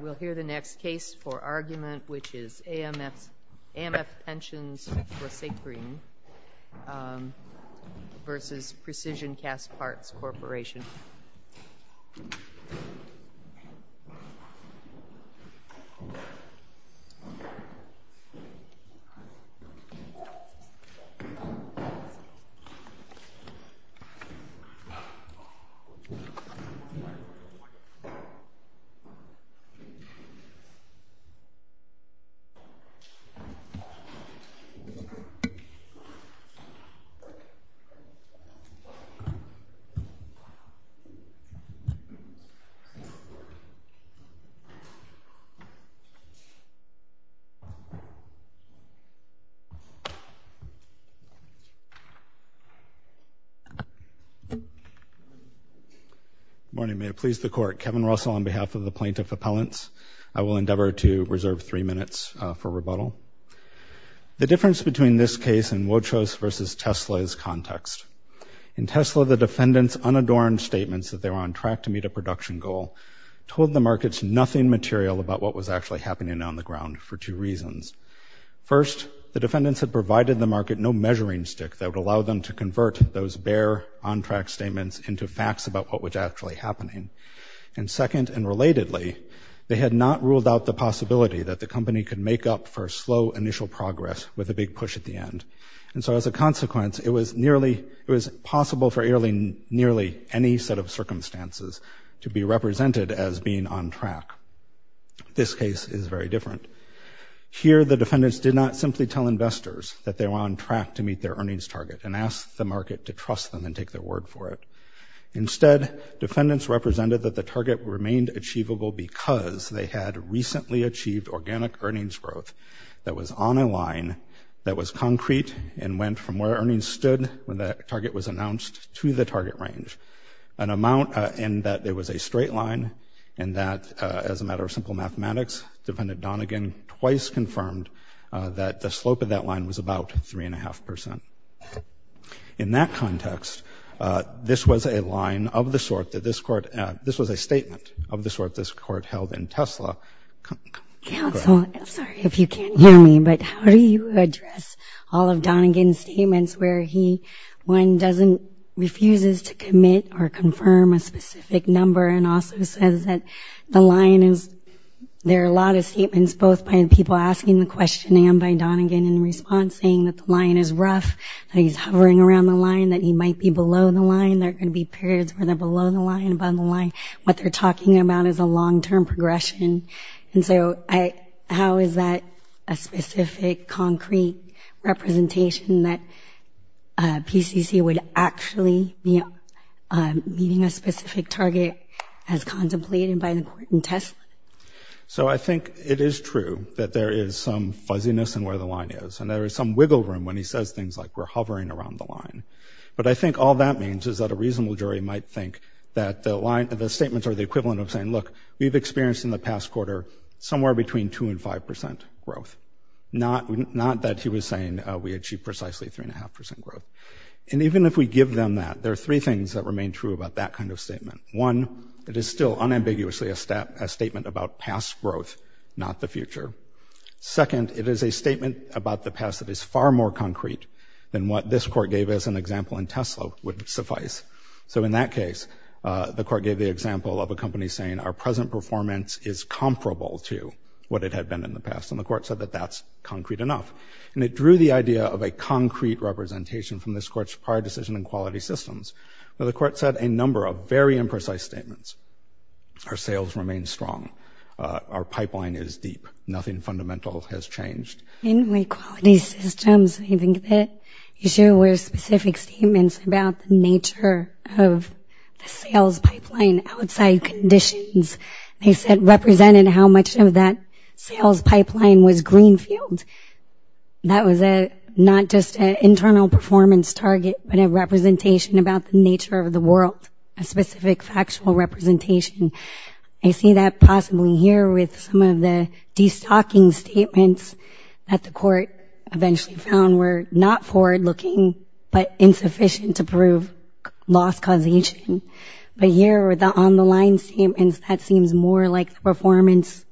We'll hear the next case for argument, which is AMF Pensionsforsakring v. Precision Castparts Corp. Morning, may it please the Court. Kevin Russell on behalf of the Plaintiff Appellants. I will endeavor to reserve three minutes for rebuttal. The difference between this case and Wochos v. Tesla is context. In Tesla, the defendants' unadorned statements that they were on track to meet a production goal told the markets nothing material about what was actually happening on the ground for two reasons. First, the defendants had provided the market no measuring stick that would allow them to And second, and relatedly, they had not ruled out the possibility that the company could make up for slow initial progress with a big push at the end. And so, as a consequence, it was possible for nearly any set of circumstances to be represented as being on track. This case is very different. Here, the defendants did not simply tell investors that they were on track to meet their earnings target and ask the market to trust them and take their The target remained achievable because they had recently achieved organic earnings growth that was on a line that was concrete and went from where earnings stood when that target was announced to the target range, an amount in that there was a straight line and that, as a matter of simple mathematics, Defendant Donegan twice confirmed that the slope of that line was about 3.5%. In that context, this was a line of the sort that this court, this was a statement of the sort this court held in Tesla. Counsel, I'm sorry if you can't hear me, but how do you address all of Donegan's statements where he, one, doesn't, refuses to commit or confirm a specific number and also says that the line is, there are a lot of statements both by people asking the question and by that he's hovering around the line, that he might be below the line, there are going to be periods where they're below the line, above the line, what they're talking about is a long-term progression, and so how is that a specific concrete representation that PCC would actually be meeting a specific target as contemplated by the court in Tesla? So I think it is true that there is some fuzziness in where the line is, and there is some wiggle room when he says things like we're hovering around the line. But I think all that means is that a reasonable jury might think that the line, the statements are the equivalent of saying, look, we've experienced in the past quarter somewhere between 2% and 5% growth, not that he was saying we achieved precisely 3.5% growth. And even if we give them that, there are three things that remain true about that kind of statement. One, it is still unambiguously a statement about past growth, not the future. Second, it is a statement about the past that is far more concrete than what this court gave as an example in Tesla would suffice. So in that case, the court gave the example of a company saying our present performance is comparable to what it had been in the past, and the court said that that's concrete enough. And it drew the idea of a concrete representation from this court's prior decision in quality systems where the court said a number of very imprecise statements. Our sales remain strong. Our pipeline is deep. Nothing fundamental has changed. In the quality systems, I think that issue with specific statements about the nature of the sales pipeline outside conditions, they said represented how much of that sales pipeline was greenfield. That was not just an internal performance target, but a representation about the nature of the world, a specific factual representation. I see that possibly here with some of the destocking statements that the court eventually found were not forward-looking, but insufficient to prove loss causation. But here with the on-the-line statements, that seems more like the performance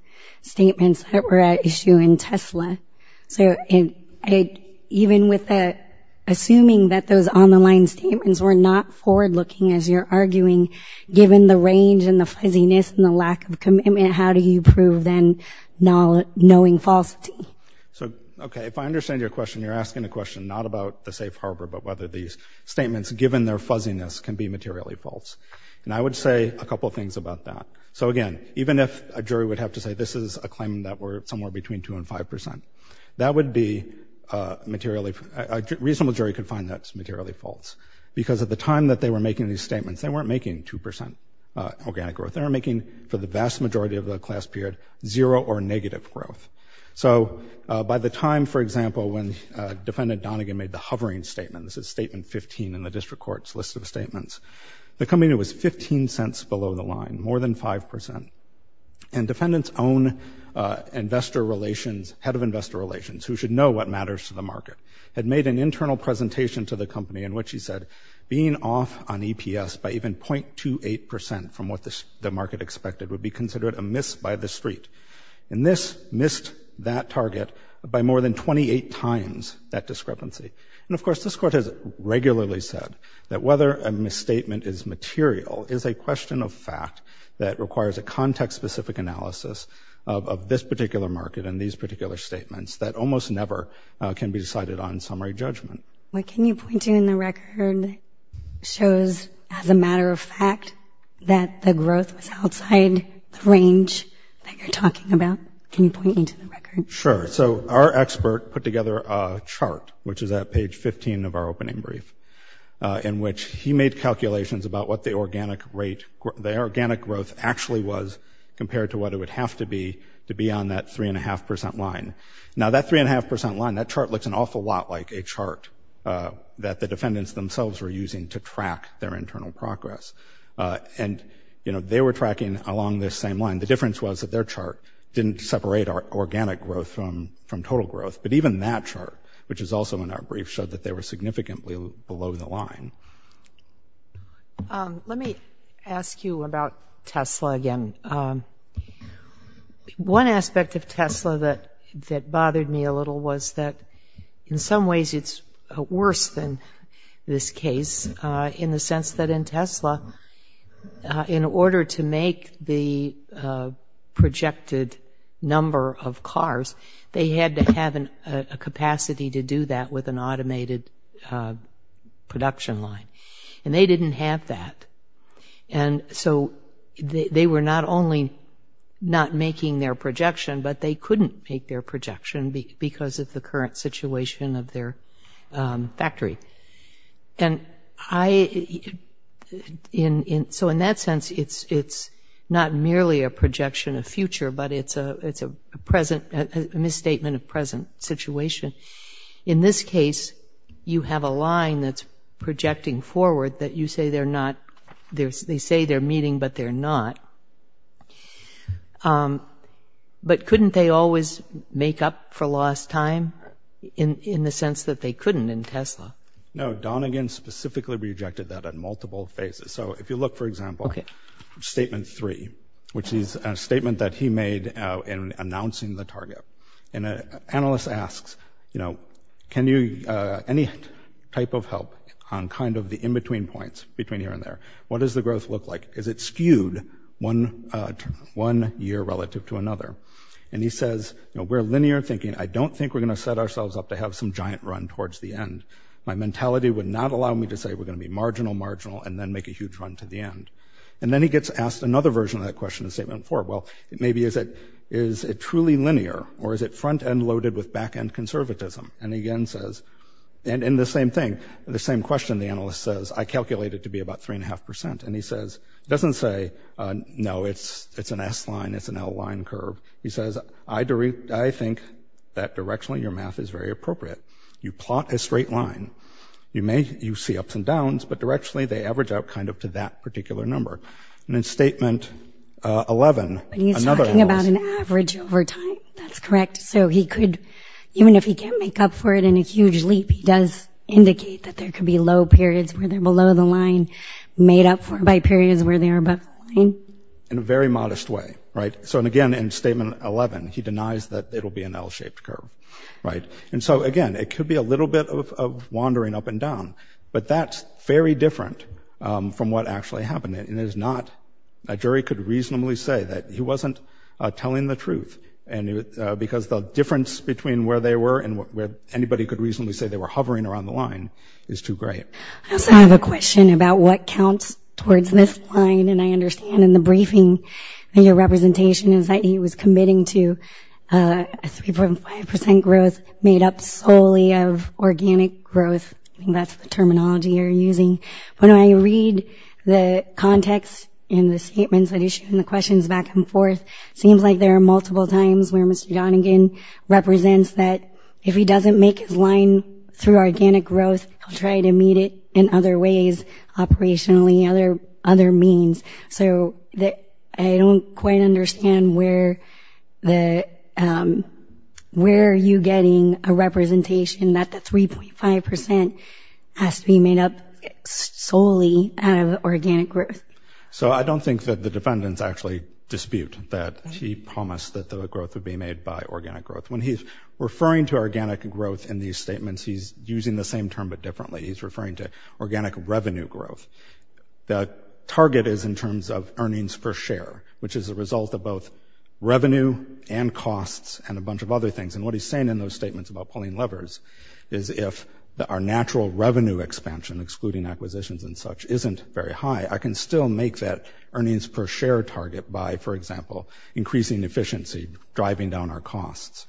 statements that were at issue in Tesla. So even with assuming that those on-the-line statements were not forward-looking, as you're arguing, given the range and the fuzziness and the lack of commitment, how do you prove then knowing falsity? So okay, if I understand your question, you're asking a question not about the safe harbor, but whether these statements, given their fuzziness, can be materially false. And I would say a couple of things about that. So again, even if a jury would have to say this is a claim that we're somewhere between 2% and 5%, that would be materially—a reasonable jury could find that materially false, because at the time that they were making these statements, they weren't making 2% organic growth. They were making, for the vast majority of the class period, zero or negative growth. So by the time, for example, when Defendant Donegan made the hovering statement—this is Statement 15 in the district court's list of statements—the company was 15 cents below the line, more than 5%. And Defendant's own investor relations—head of investor relations, who should know what matters to the market—had made an internal presentation to the company in which he said, being off on EPS by even 0.28% from what the market expected would be considered a miss by the street. And this missed that target by more than 28 times that discrepancy. And of course, this court has regularly said that whether a misstatement is material is a question of fact that requires a context-specific analysis of this particular market and these particular statements that almost never can be decided on summary judgment. What can you point to in the record that shows, as a matter of fact, that the growth was outside the range that you're talking about? Can you point me to the record? Sure. So our expert put together a chart, which is at page 15 of our opening brief, in which he made calculations about what the organic rate—the organic growth actually was compared to what it would have to be to be on that 3.5% line. Now that 3.5% line, that chart looks an awful lot like a chart that the defendants themselves were using to track their internal progress. And they were tracking along this same line. The difference was that their chart didn't separate organic growth from total growth. But even that chart, which is also in our brief, showed that they were significantly below the line. Let me ask you about Tesla again. One aspect of Tesla that bothered me a little was that, in some ways, it's worse than this case, in the sense that in Tesla, in order to make the projected number of cars, they had to have a capacity to do that with an automated production line. And they didn't have that. And so they were not only not making their projection, but they couldn't make their projection because of the current situation of their factory. And so in that sense, it's not merely a projection of future, but it's a misstatement of present situation. In this case, you have a line that's projecting forward that you say they're meeting, but they're not. But couldn't they always make up for lost time, in the sense that they couldn't in Tesla? No, Donegan specifically rejected that at multiple phases. So if you look, for example, statement three, which is a statement that he made in announcing the target. And an analyst asks, you know, can you – any type of help on kind of the in-between points between here and there? What does the growth look like? Is it skewed one year relative to another? And he says, you know, we're linear thinking. I don't think we're going to set ourselves up to have some giant run towards the end. My mentality would not allow me to say we're going to be marginal, marginal, and then make a huge run to the end. And then he gets asked another version of that question in statement four. Well, maybe is it truly linear, or is it front-end loaded with back-end conservatism? And again says – and the same thing, the same question the analyst says, I calculate it to be about three and a half percent. And he says – he doesn't say, no, it's an S-line, it's an L-line curve. He says, I think that directionally your math is very appropriate. You plot a straight line. You may – you see ups and downs, but directionally they average out kind of to that particular number. And in statement 11 – And he's talking about an average over time. That's correct. So he could – even if he can't make up for it in a huge leap, he does indicate that there could be low periods where they're below the line, made up for by periods where they are above the line. In a very modest way, right? So again, in statement 11, he denies that it'll be an L-shaped curve, right? And so, again, it could be a little bit of wandering up and down. But that's very different from what actually happened, and it is not – a jury could reasonably say that he wasn't telling the truth, because the difference between where they were and where anybody could reasonably say they were hovering around the line is too great. I also have a question about what counts towards this line. And I understand in the briefing, in your representation, is that he was committing to a 3.5 percent growth made up solely of organic growth. I think that's the terminology you're using. When I read the context in the statements that he's – in the questions back and forth, it seems like there are multiple times where Mr. Donegan represents that if he doesn't make his line through organic growth, he'll try to meet it in other ways, operationally, other means. So I don't quite understand where the – where are you getting a representation that the 3.5 percent has to be made up solely out of organic growth? So I don't think that the defendants actually dispute that he promised that the growth would be made by organic growth. When he's referring to organic growth in these statements, he's using the same term but differently. He's referring to organic revenue growth. The target is in terms of earnings per share, which is a result of both revenue and costs and a bunch of other things. And what he's saying in those statements about pulling levers is if our natural revenue expansion, excluding acquisitions and such, isn't very high, I can still make that earnings per share target by, for example, increasing efficiency, driving down our costs.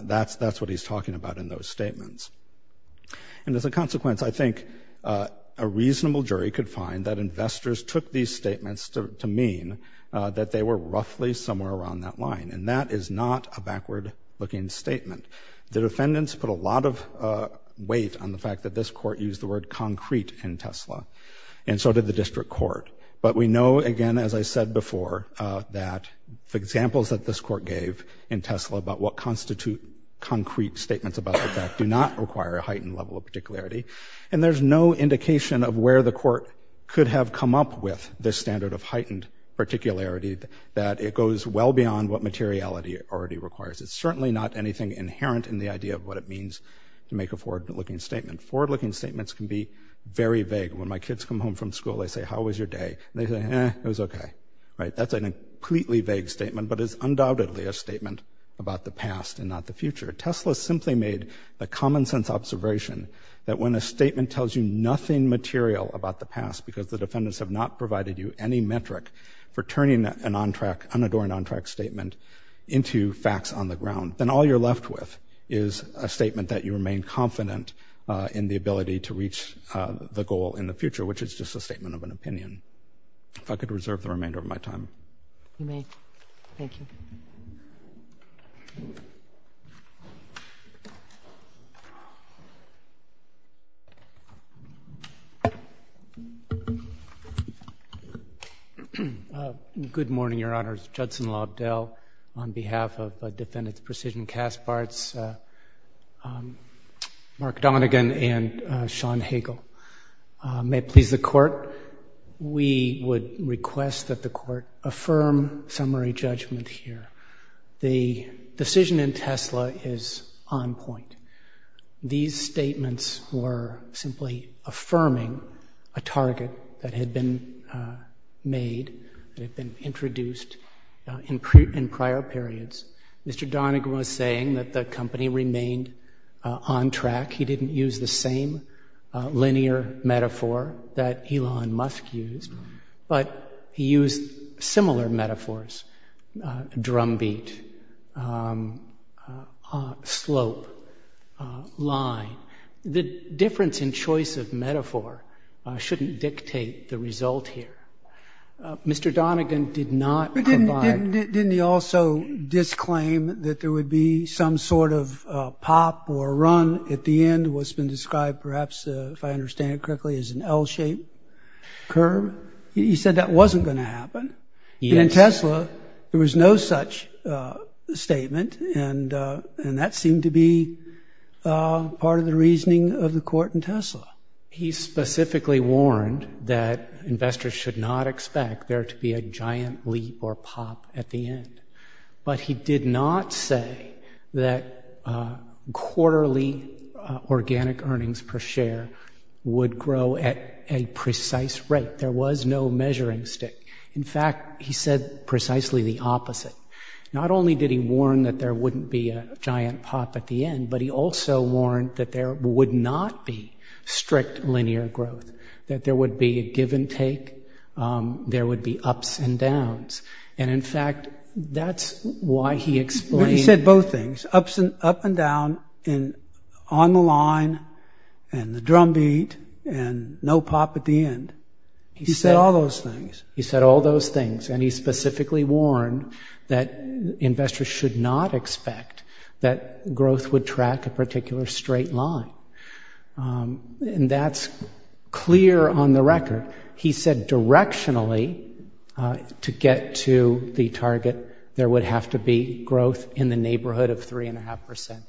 That's what he's talking about in those statements. And as a consequence, I think a reasonable jury could find that investors took these statements to mean that they were roughly somewhere around that line. And that is not a backward-looking statement. The defendants put a lot of weight on the fact that this court used the word concrete in Tesla, and so did the district court. But we know, again, as I said before, that the examples that this court gave in Tesla about what constitute concrete statements about the fact do not require a heightened level of particularity. And there's no indication of where the court could have come up with this standard of heightened particularity, that it goes well beyond what materiality already requires. It's certainly not anything inherent in the idea of what it means to make a forward-looking statement. Forward-looking statements can be very vague. When my kids come home from school, they say, how was your day? And they say, eh, it was okay. Right? That's a completely vague statement, but it's undoubtedly a statement about the past and not the future. Tesla simply made a common-sense observation that when a statement tells you nothing material about the past because the defendants have not provided you any metric for turning an on-track, unadorned on-track statement into facts on the ground, then all you're left with is a statement that you remain confident in the ability to reach the goal in the future, which is just a statement of an opinion. If I could reserve the remainder of my time. You may. Thank you. Good morning, Your Honors. Judson Lobdell on behalf of Defendants Precision Kaspartz, Mark Donegan, and Sean Hagel. May it please the Court, we would request that the Court affirm summary judgment here The decision in Tesla is on point. These statements were simply affirming a target that had been made, that had been introduced in prior periods. Mr. Donegan was saying that the company remained on track. He didn't use the same linear metaphor that Elon Musk used, but he used similar metaphors, drumbeat, slope, line. The difference in choice of metaphor shouldn't dictate the result here. Mr. Donegan did not provide... Didn't he also disclaim that there would be some sort of pop or run at the end, what's been described perhaps, if I understand it correctly, as an L-shaped curve? He said that wasn't going to happen. In Tesla, there was no such statement, and that seemed to be part of the reasoning of the Court in Tesla. He specifically warned that investors should not expect there to be a giant leap or pop at the end. But he did not say that quarterly organic earnings per share would grow at a precise rate. There was no measuring stick. In fact, he said precisely the opposite. Not only did he warn that there wouldn't be a giant pop at the end, but he also warned that there would not be strict linear growth, that there would be a give and take, there would be ups and downs. And in fact, that's why he explained... He said both things, ups and up and down, and on the line, and the drumbeat, and no pop at the end. He said all those things. He said all those things, and he specifically warned that investors should not expect that growth would track a particular straight line. And that's clear on the record. He said directionally, to get to the target, there would have to be growth in the neighborhood of three and a half percent.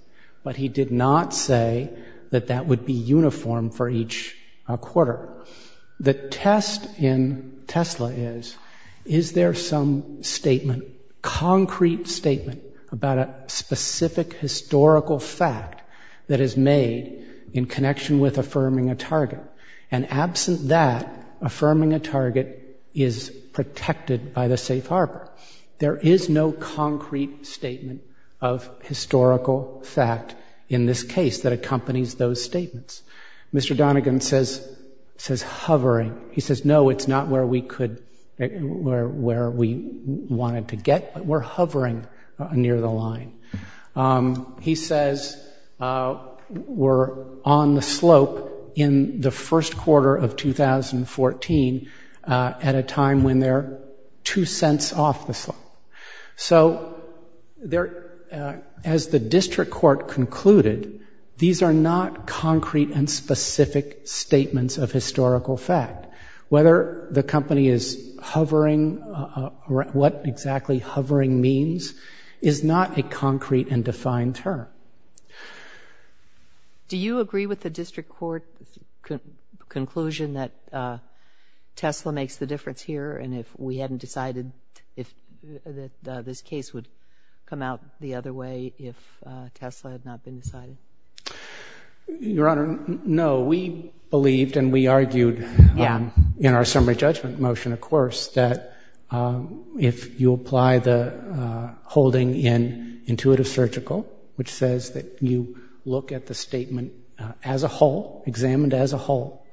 But he did not say that that would be uniform for each quarter. The test in Tesla is, is there some statement, concrete statement, about a specific historical fact that is made in connection with affirming a target? And absent that, affirming a target is protected by the safe harbor. There is no concrete statement of historical fact in this case that accompanies those statements. Mr. Donegan says hovering. He says, no, it's not where we wanted to get, but we're hovering near the line. He says we're on the slope in the first quarter of 2014, at a time when they're two cents off the slope. So there, as the district court concluded, these are not concrete and specific statements of historical fact. Whether the company is hovering, what exactly hovering means, is not a concrete and defined term. Do you agree with the district court conclusion that Tesla makes the difference here? And if we hadn't decided that this case would come out the other way if Tesla had not been decided? Your Honor, no. We believed and we argued in our summary judgment motion, of course, that if you apply the holding in intuitive surgical, which says that you look at the statement as a whole, examined as a whole,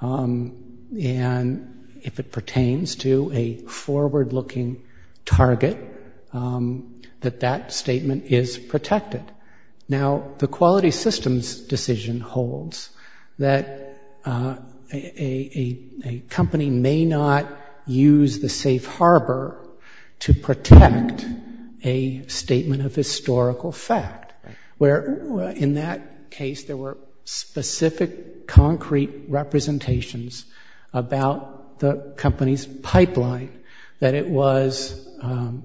and if it pertains to a forward-looking target, that that statement is protected. Now, the quality systems decision holds that a company may not use the safe harbor to protect a statement of historical fact, where in that case there were specific concrete representations about the company's pipeline, that it was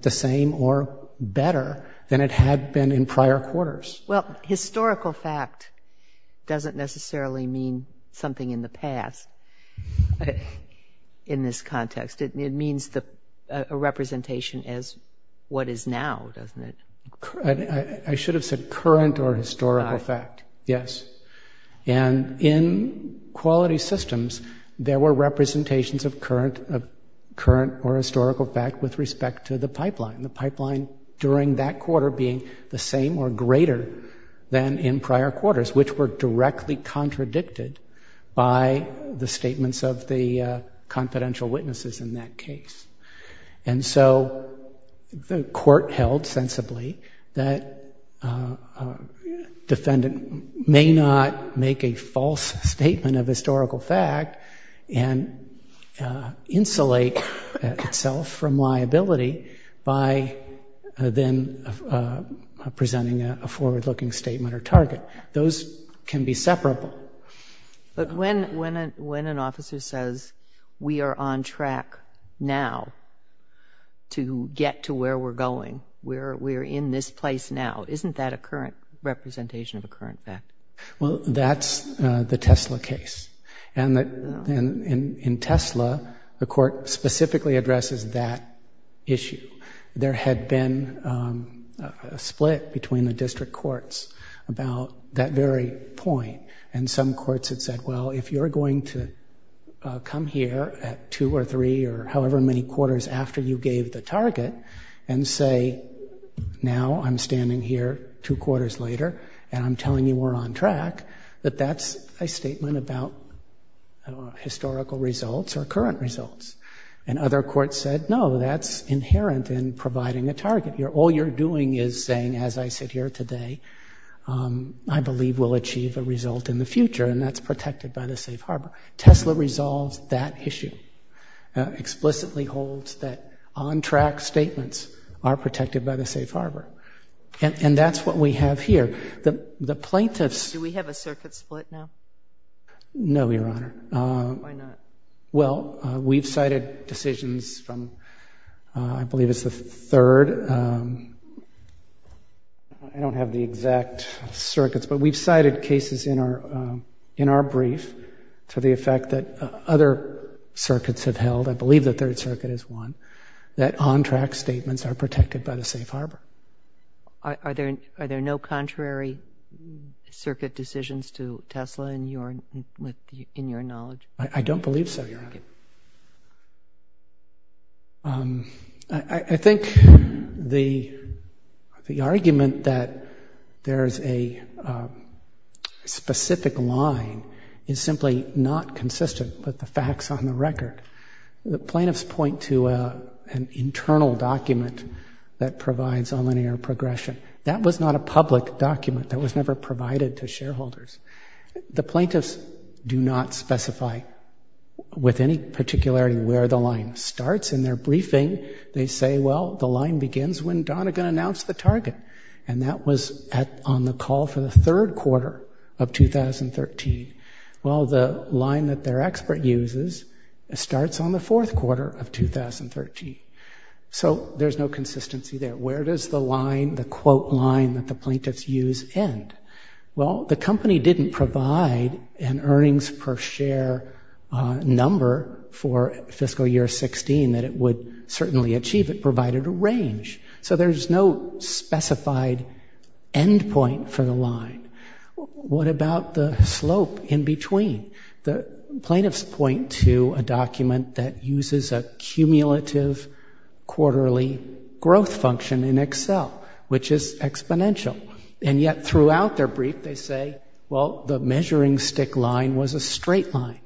the same or better than it had been in prior quarters. Well, historical fact doesn't necessarily mean something in the past in this context. It means a representation as what is now, doesn't it? I should have said current or historical fact, yes. And in quality systems, there were representations of current or historical fact with respect to the pipeline. The pipeline during that quarter being the same or greater than in prior quarters, which were directly contradicted by the statements of the confidential witnesses in that case. And so the court held sensibly that a defendant may not make a false statement of historical fact and insulate itself from liability by then presenting a forward-looking statement or target. Those can be separable. But when an officer says, we are on track now to get to where we're going, we're in this place now, isn't that a current representation of a current fact? Well, that's the Tesla case. And in Tesla, the court specifically addresses that issue. There had been a split between the district courts about that very point. And some courts had said, well, if you're going to come here at two or three or however many quarters after you gave the target and say, now I'm standing here two quarters later and I'm telling you we're on track, that that's a statement about historical results or current results. And other courts said, no, that's inherent in providing a target. All you're doing is saying, as I sit here today, I believe we'll achieve a result in the future. And that's protected by the safe harbor. Tesla resolves that issue, explicitly holds that on-track statements are protected by the safe harbor. And that's what we have here. The plaintiffs- Do we have a circuit split now? No, Your Honor. Why not? Well, we've cited decisions from, I believe it's the third, I don't have the exact circuits, but we've cited cases in our brief to the effect that other circuits have held, I believe the third circuit is one, that on-track statements are protected by the safe harbor. Are there no contrary circuit decisions to Tesla in your knowledge? I don't believe so, Your Honor. I think the argument that there's a specific line is simply not consistent with the facts on the record. The plaintiffs point to an internal document that provides a linear progression. That was not a public document that was never provided to shareholders. The plaintiffs do not specify with any particularity where the line starts in their briefing. They say, well, the line begins when Donagan announced the target. And that was on the call for the third quarter of 2013. Well, the line that their expert uses starts on the fourth quarter of 2013. So there's no consistency there. Where does the line, the quote line that the plaintiffs use end? Well, the company didn't provide an earnings per share number for fiscal year 16 that it would certainly achieve. It provided a range. So there's no specified end point for the line. What about the slope in between? The plaintiffs point to a document that uses a cumulative quarterly growth function in Excel, which is exponential. And yet throughout their brief, they say, well, the measuring stick line was a straight line.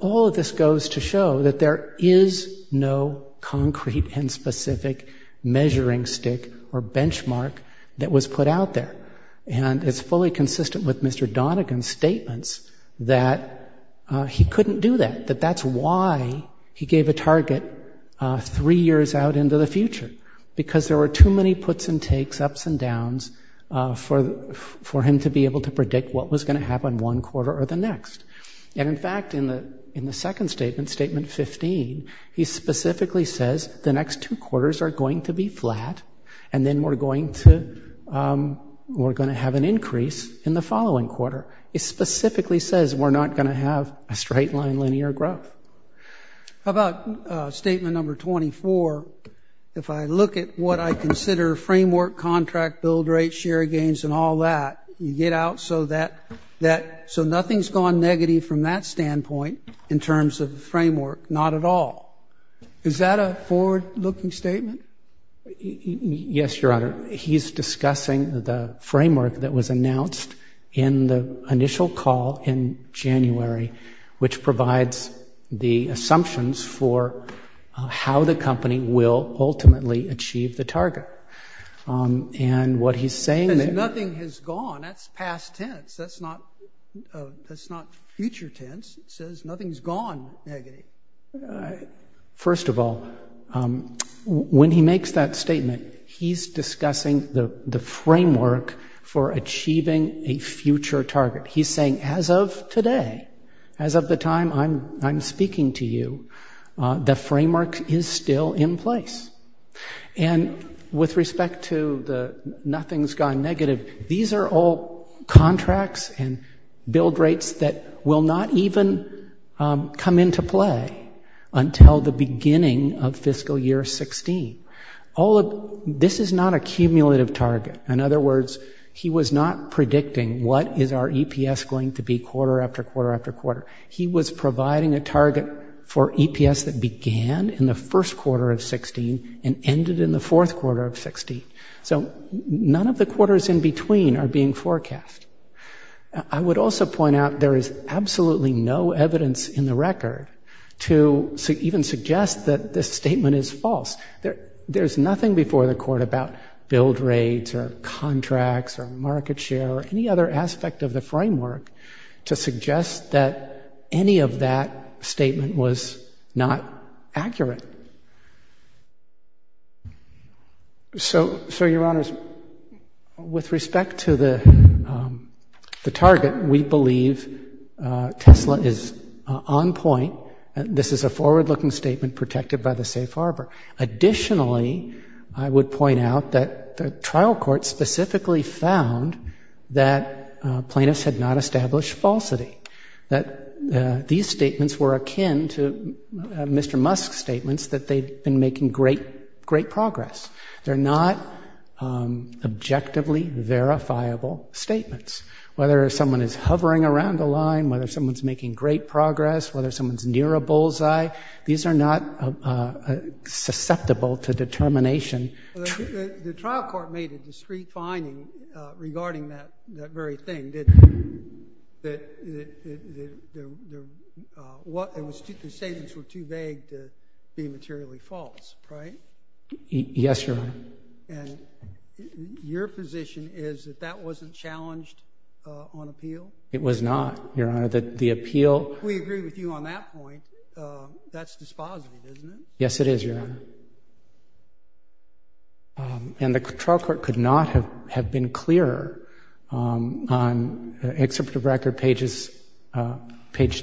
All of this goes to show that there is no concrete and specific measuring stick or benchmark that was put out there. And it's fully consistent with Mr. Donagan's statements that he couldn't do that, that that's why he gave a target three years out into the future, because there were too many puts and takes, ups and downs for him to be able to predict what was going to happen one quarter or the next. And in fact, in the second statement, statement 15, he specifically says the next two quarters are going to be flat, and then we're going to have an increase in the following quarter. He specifically says we're not going to have a straight line linear growth. How about statement number 24? If I look at what I consider framework, contract, build rate, share gains, and all that, you get out so that nothing's gone negative from that standpoint in terms of the framework. Not at all. Is that a forward-looking statement? Yes, Your Honor. He's discussing the framework that was announced in the initial call in January, which provides the assumptions for how the company will ultimately achieve the target. And what he's saying- Says nothing has gone, that's past tense, that's not future tense, it says nothing's gone negative. First of all, when he makes that statement, he's discussing the framework for achieving a future target. He's saying as of today, as of the time I'm speaking to you, the framework is still in place. And with respect to the nothing's gone negative, these are all contracts and build rates that will not even come into play until the beginning of fiscal year 16. This is not a cumulative target. In other words, he was not predicting what is our EPS going to be quarter after quarter after quarter. He was providing a target for EPS that began in the first quarter of 16 and ended in the fourth quarter of 16. So none of the quarters in between are being forecast. I would also point out there is absolutely no evidence in the record to even suggest that this statement is false. There's nothing before the court about build rates or contracts or market share or any other aspect of the framework to suggest that any of that statement was not accurate. So your honors, with respect to the target, we believe Tesla is on point. This is a forward-looking statement protected by the safe harbor. Additionally, I would point out that the trial court specifically found that plaintiffs had not established falsity, that these statements were akin to Mr. Musk's statements that they'd been making great progress. They're not objectively verifiable statements. Whether someone is hovering around the line, whether someone's making great progress, whether someone's near a bullseye, these are not susceptible to determination. The trial court made a discreet finding regarding that very thing, that the statements were too vague to be materially false, right? Yes, Your Honor. Your position is that that wasn't challenged on appeal? It was not, Your Honor. We agree with you on that point. That's dispositive, isn't it? Yes, it is, Your Honor. And the trial court could not have been clearer. On the excerpt of record, page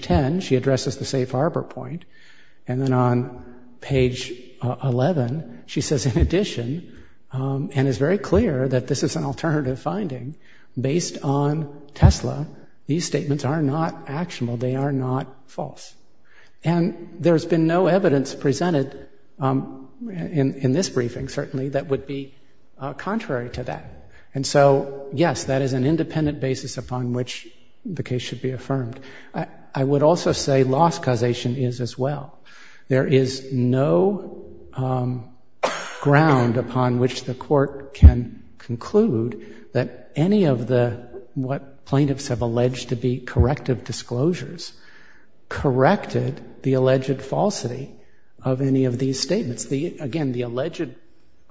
10, she addresses the safe harbor point. And then on page 11, she says, in addition, and is very clear that this is an alternative finding, based on Tesla, these statements are not actionable. They are not false. And there's been no evidence presented in this briefing, certainly, that would be contrary to that. And so, yes, that is an independent basis upon which the case should be affirmed. I would also say loss causation is as well. There is no ground upon which the court can conclude that any of the, what plaintiffs have alleged to be corrective disclosures, corrected the alleged falsity of any of these statements. Again, the alleged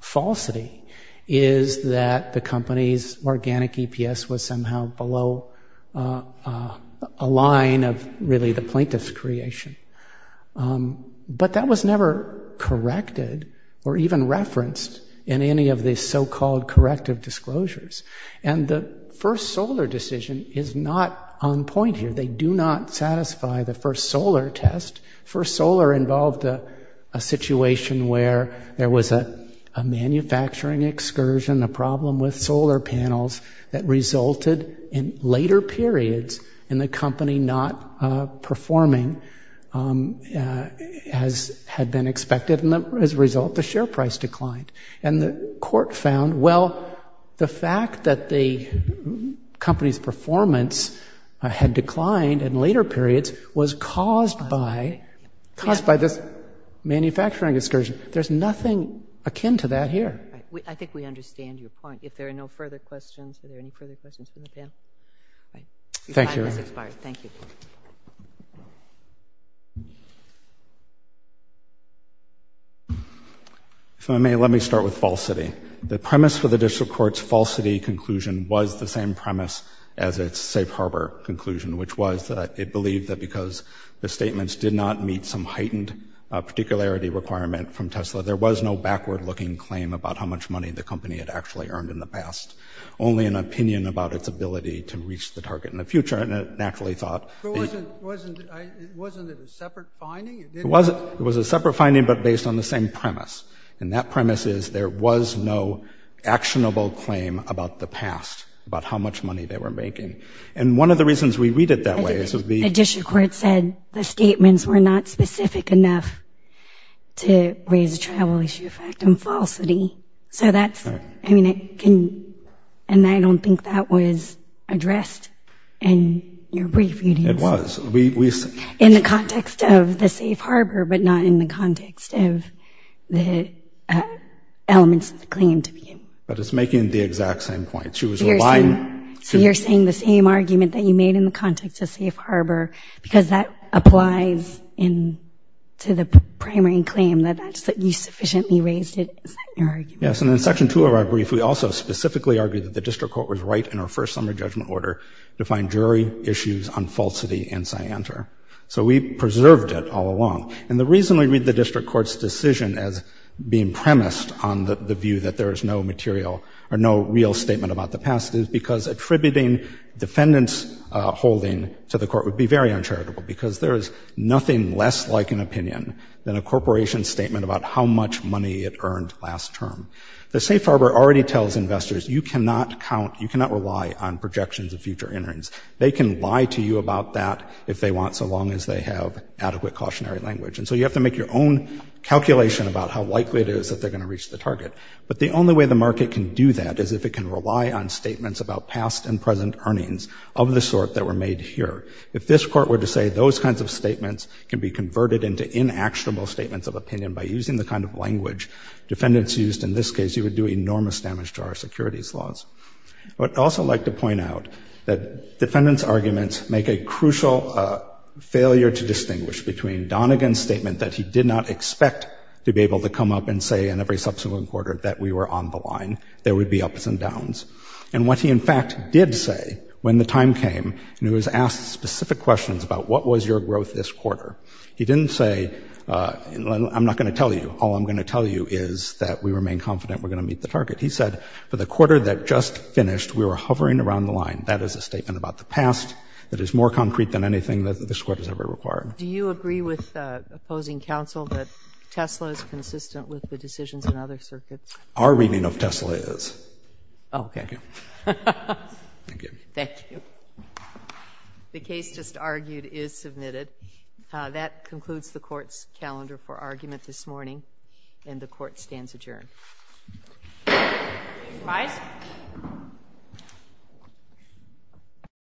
falsity is that the company's organic EPS was somehow below a line of, really, the plaintiff's creation. But that was never corrected or even referenced in any of these so-called corrective disclosures. And the first solar decision is not on point here. They do not satisfy the first solar test. First solar involved a situation where there was a manufacturing excursion, a problem with performing as had been expected, and as a result, the share price declined. And the court found, well, the fact that the company's performance had declined in later periods was caused by this manufacturing excursion. There's nothing akin to that here. I think we understand your point. If there are no further questions, are there any further questions from the panel? Thank you. The time has expired. Thank you. If I may, let me start with falsity. The premise for the district court's falsity conclusion was the same premise as its safe harbor conclusion, which was that it believed that because the statements did not meet some heightened particularity requirement from Tesla, there was no backward-looking claim about how much money the company had actually earned in the past, only an opinion about its ability to reach the target in the future, and it actually thought that it was a separate finding but based on the same premise. And that premise is there was no actionable claim about the past, about how much money they were making. And one of the reasons we read it that way is that the district court said the statements were not specific enough to raise a travel issue effect in falsity. So that's, I mean, it can, and I don't think that was addressed in your brief reading. It was. In the context of the safe harbor, but not in the context of the elements of the claim to be. But it's making the exact same point. So you're saying the same argument that you made in the context of safe harbor because that applies in to the primary claim that you sufficiently raised it. Is that your argument? Yes. And in section two of our brief, we also specifically argued that the district court was right in our first summary judgment order to find jury issues on falsity and scienter. So we preserved it all along. And the reason we read the district court's decision as being premised on the view that there is no material or no real statement about the past is because attributing defendant's holding to the court would be very uncharitable because there is nothing less like an opinion than a corporation statement about how much money it earned last term. The safe harbor already tells investors you cannot count, you cannot rely on projections of future innings. They can lie to you about that if they want so long as they have adequate cautionary language. And so you have to make your own calculation about how likely it is that they're going to reach the target. But the only way the market can do that is if it can rely on statements about past and If this court were to say those kinds of statements can be converted into inactionable statements of opinion by using the kind of language defendants used in this case, you would do enormous damage to our securities laws. I would also like to point out that defendants' arguments make a crucial failure to distinguish between Donegan's statement that he did not expect to be able to come up and say in every subsequent quarter that we were on the line, there would be ups and downs. And what he in fact did say when the time came and he was asked specific questions about what was your growth this quarter, he didn't say, I'm not going to tell you, all I'm going to tell you is that we remain confident we're going to meet the target. He said for the quarter that just finished, we were hovering around the line. That is a statement about the past that is more concrete than anything that this court has ever required. Do you agree with opposing counsel that Tesla is consistent with the decisions in other circuits? Our reading of Tesla is. Okay. Thank you. Thank you. Thank you. The case just argued is submitted. That concludes the court's calendar for argument this morning and the court stands adjourned.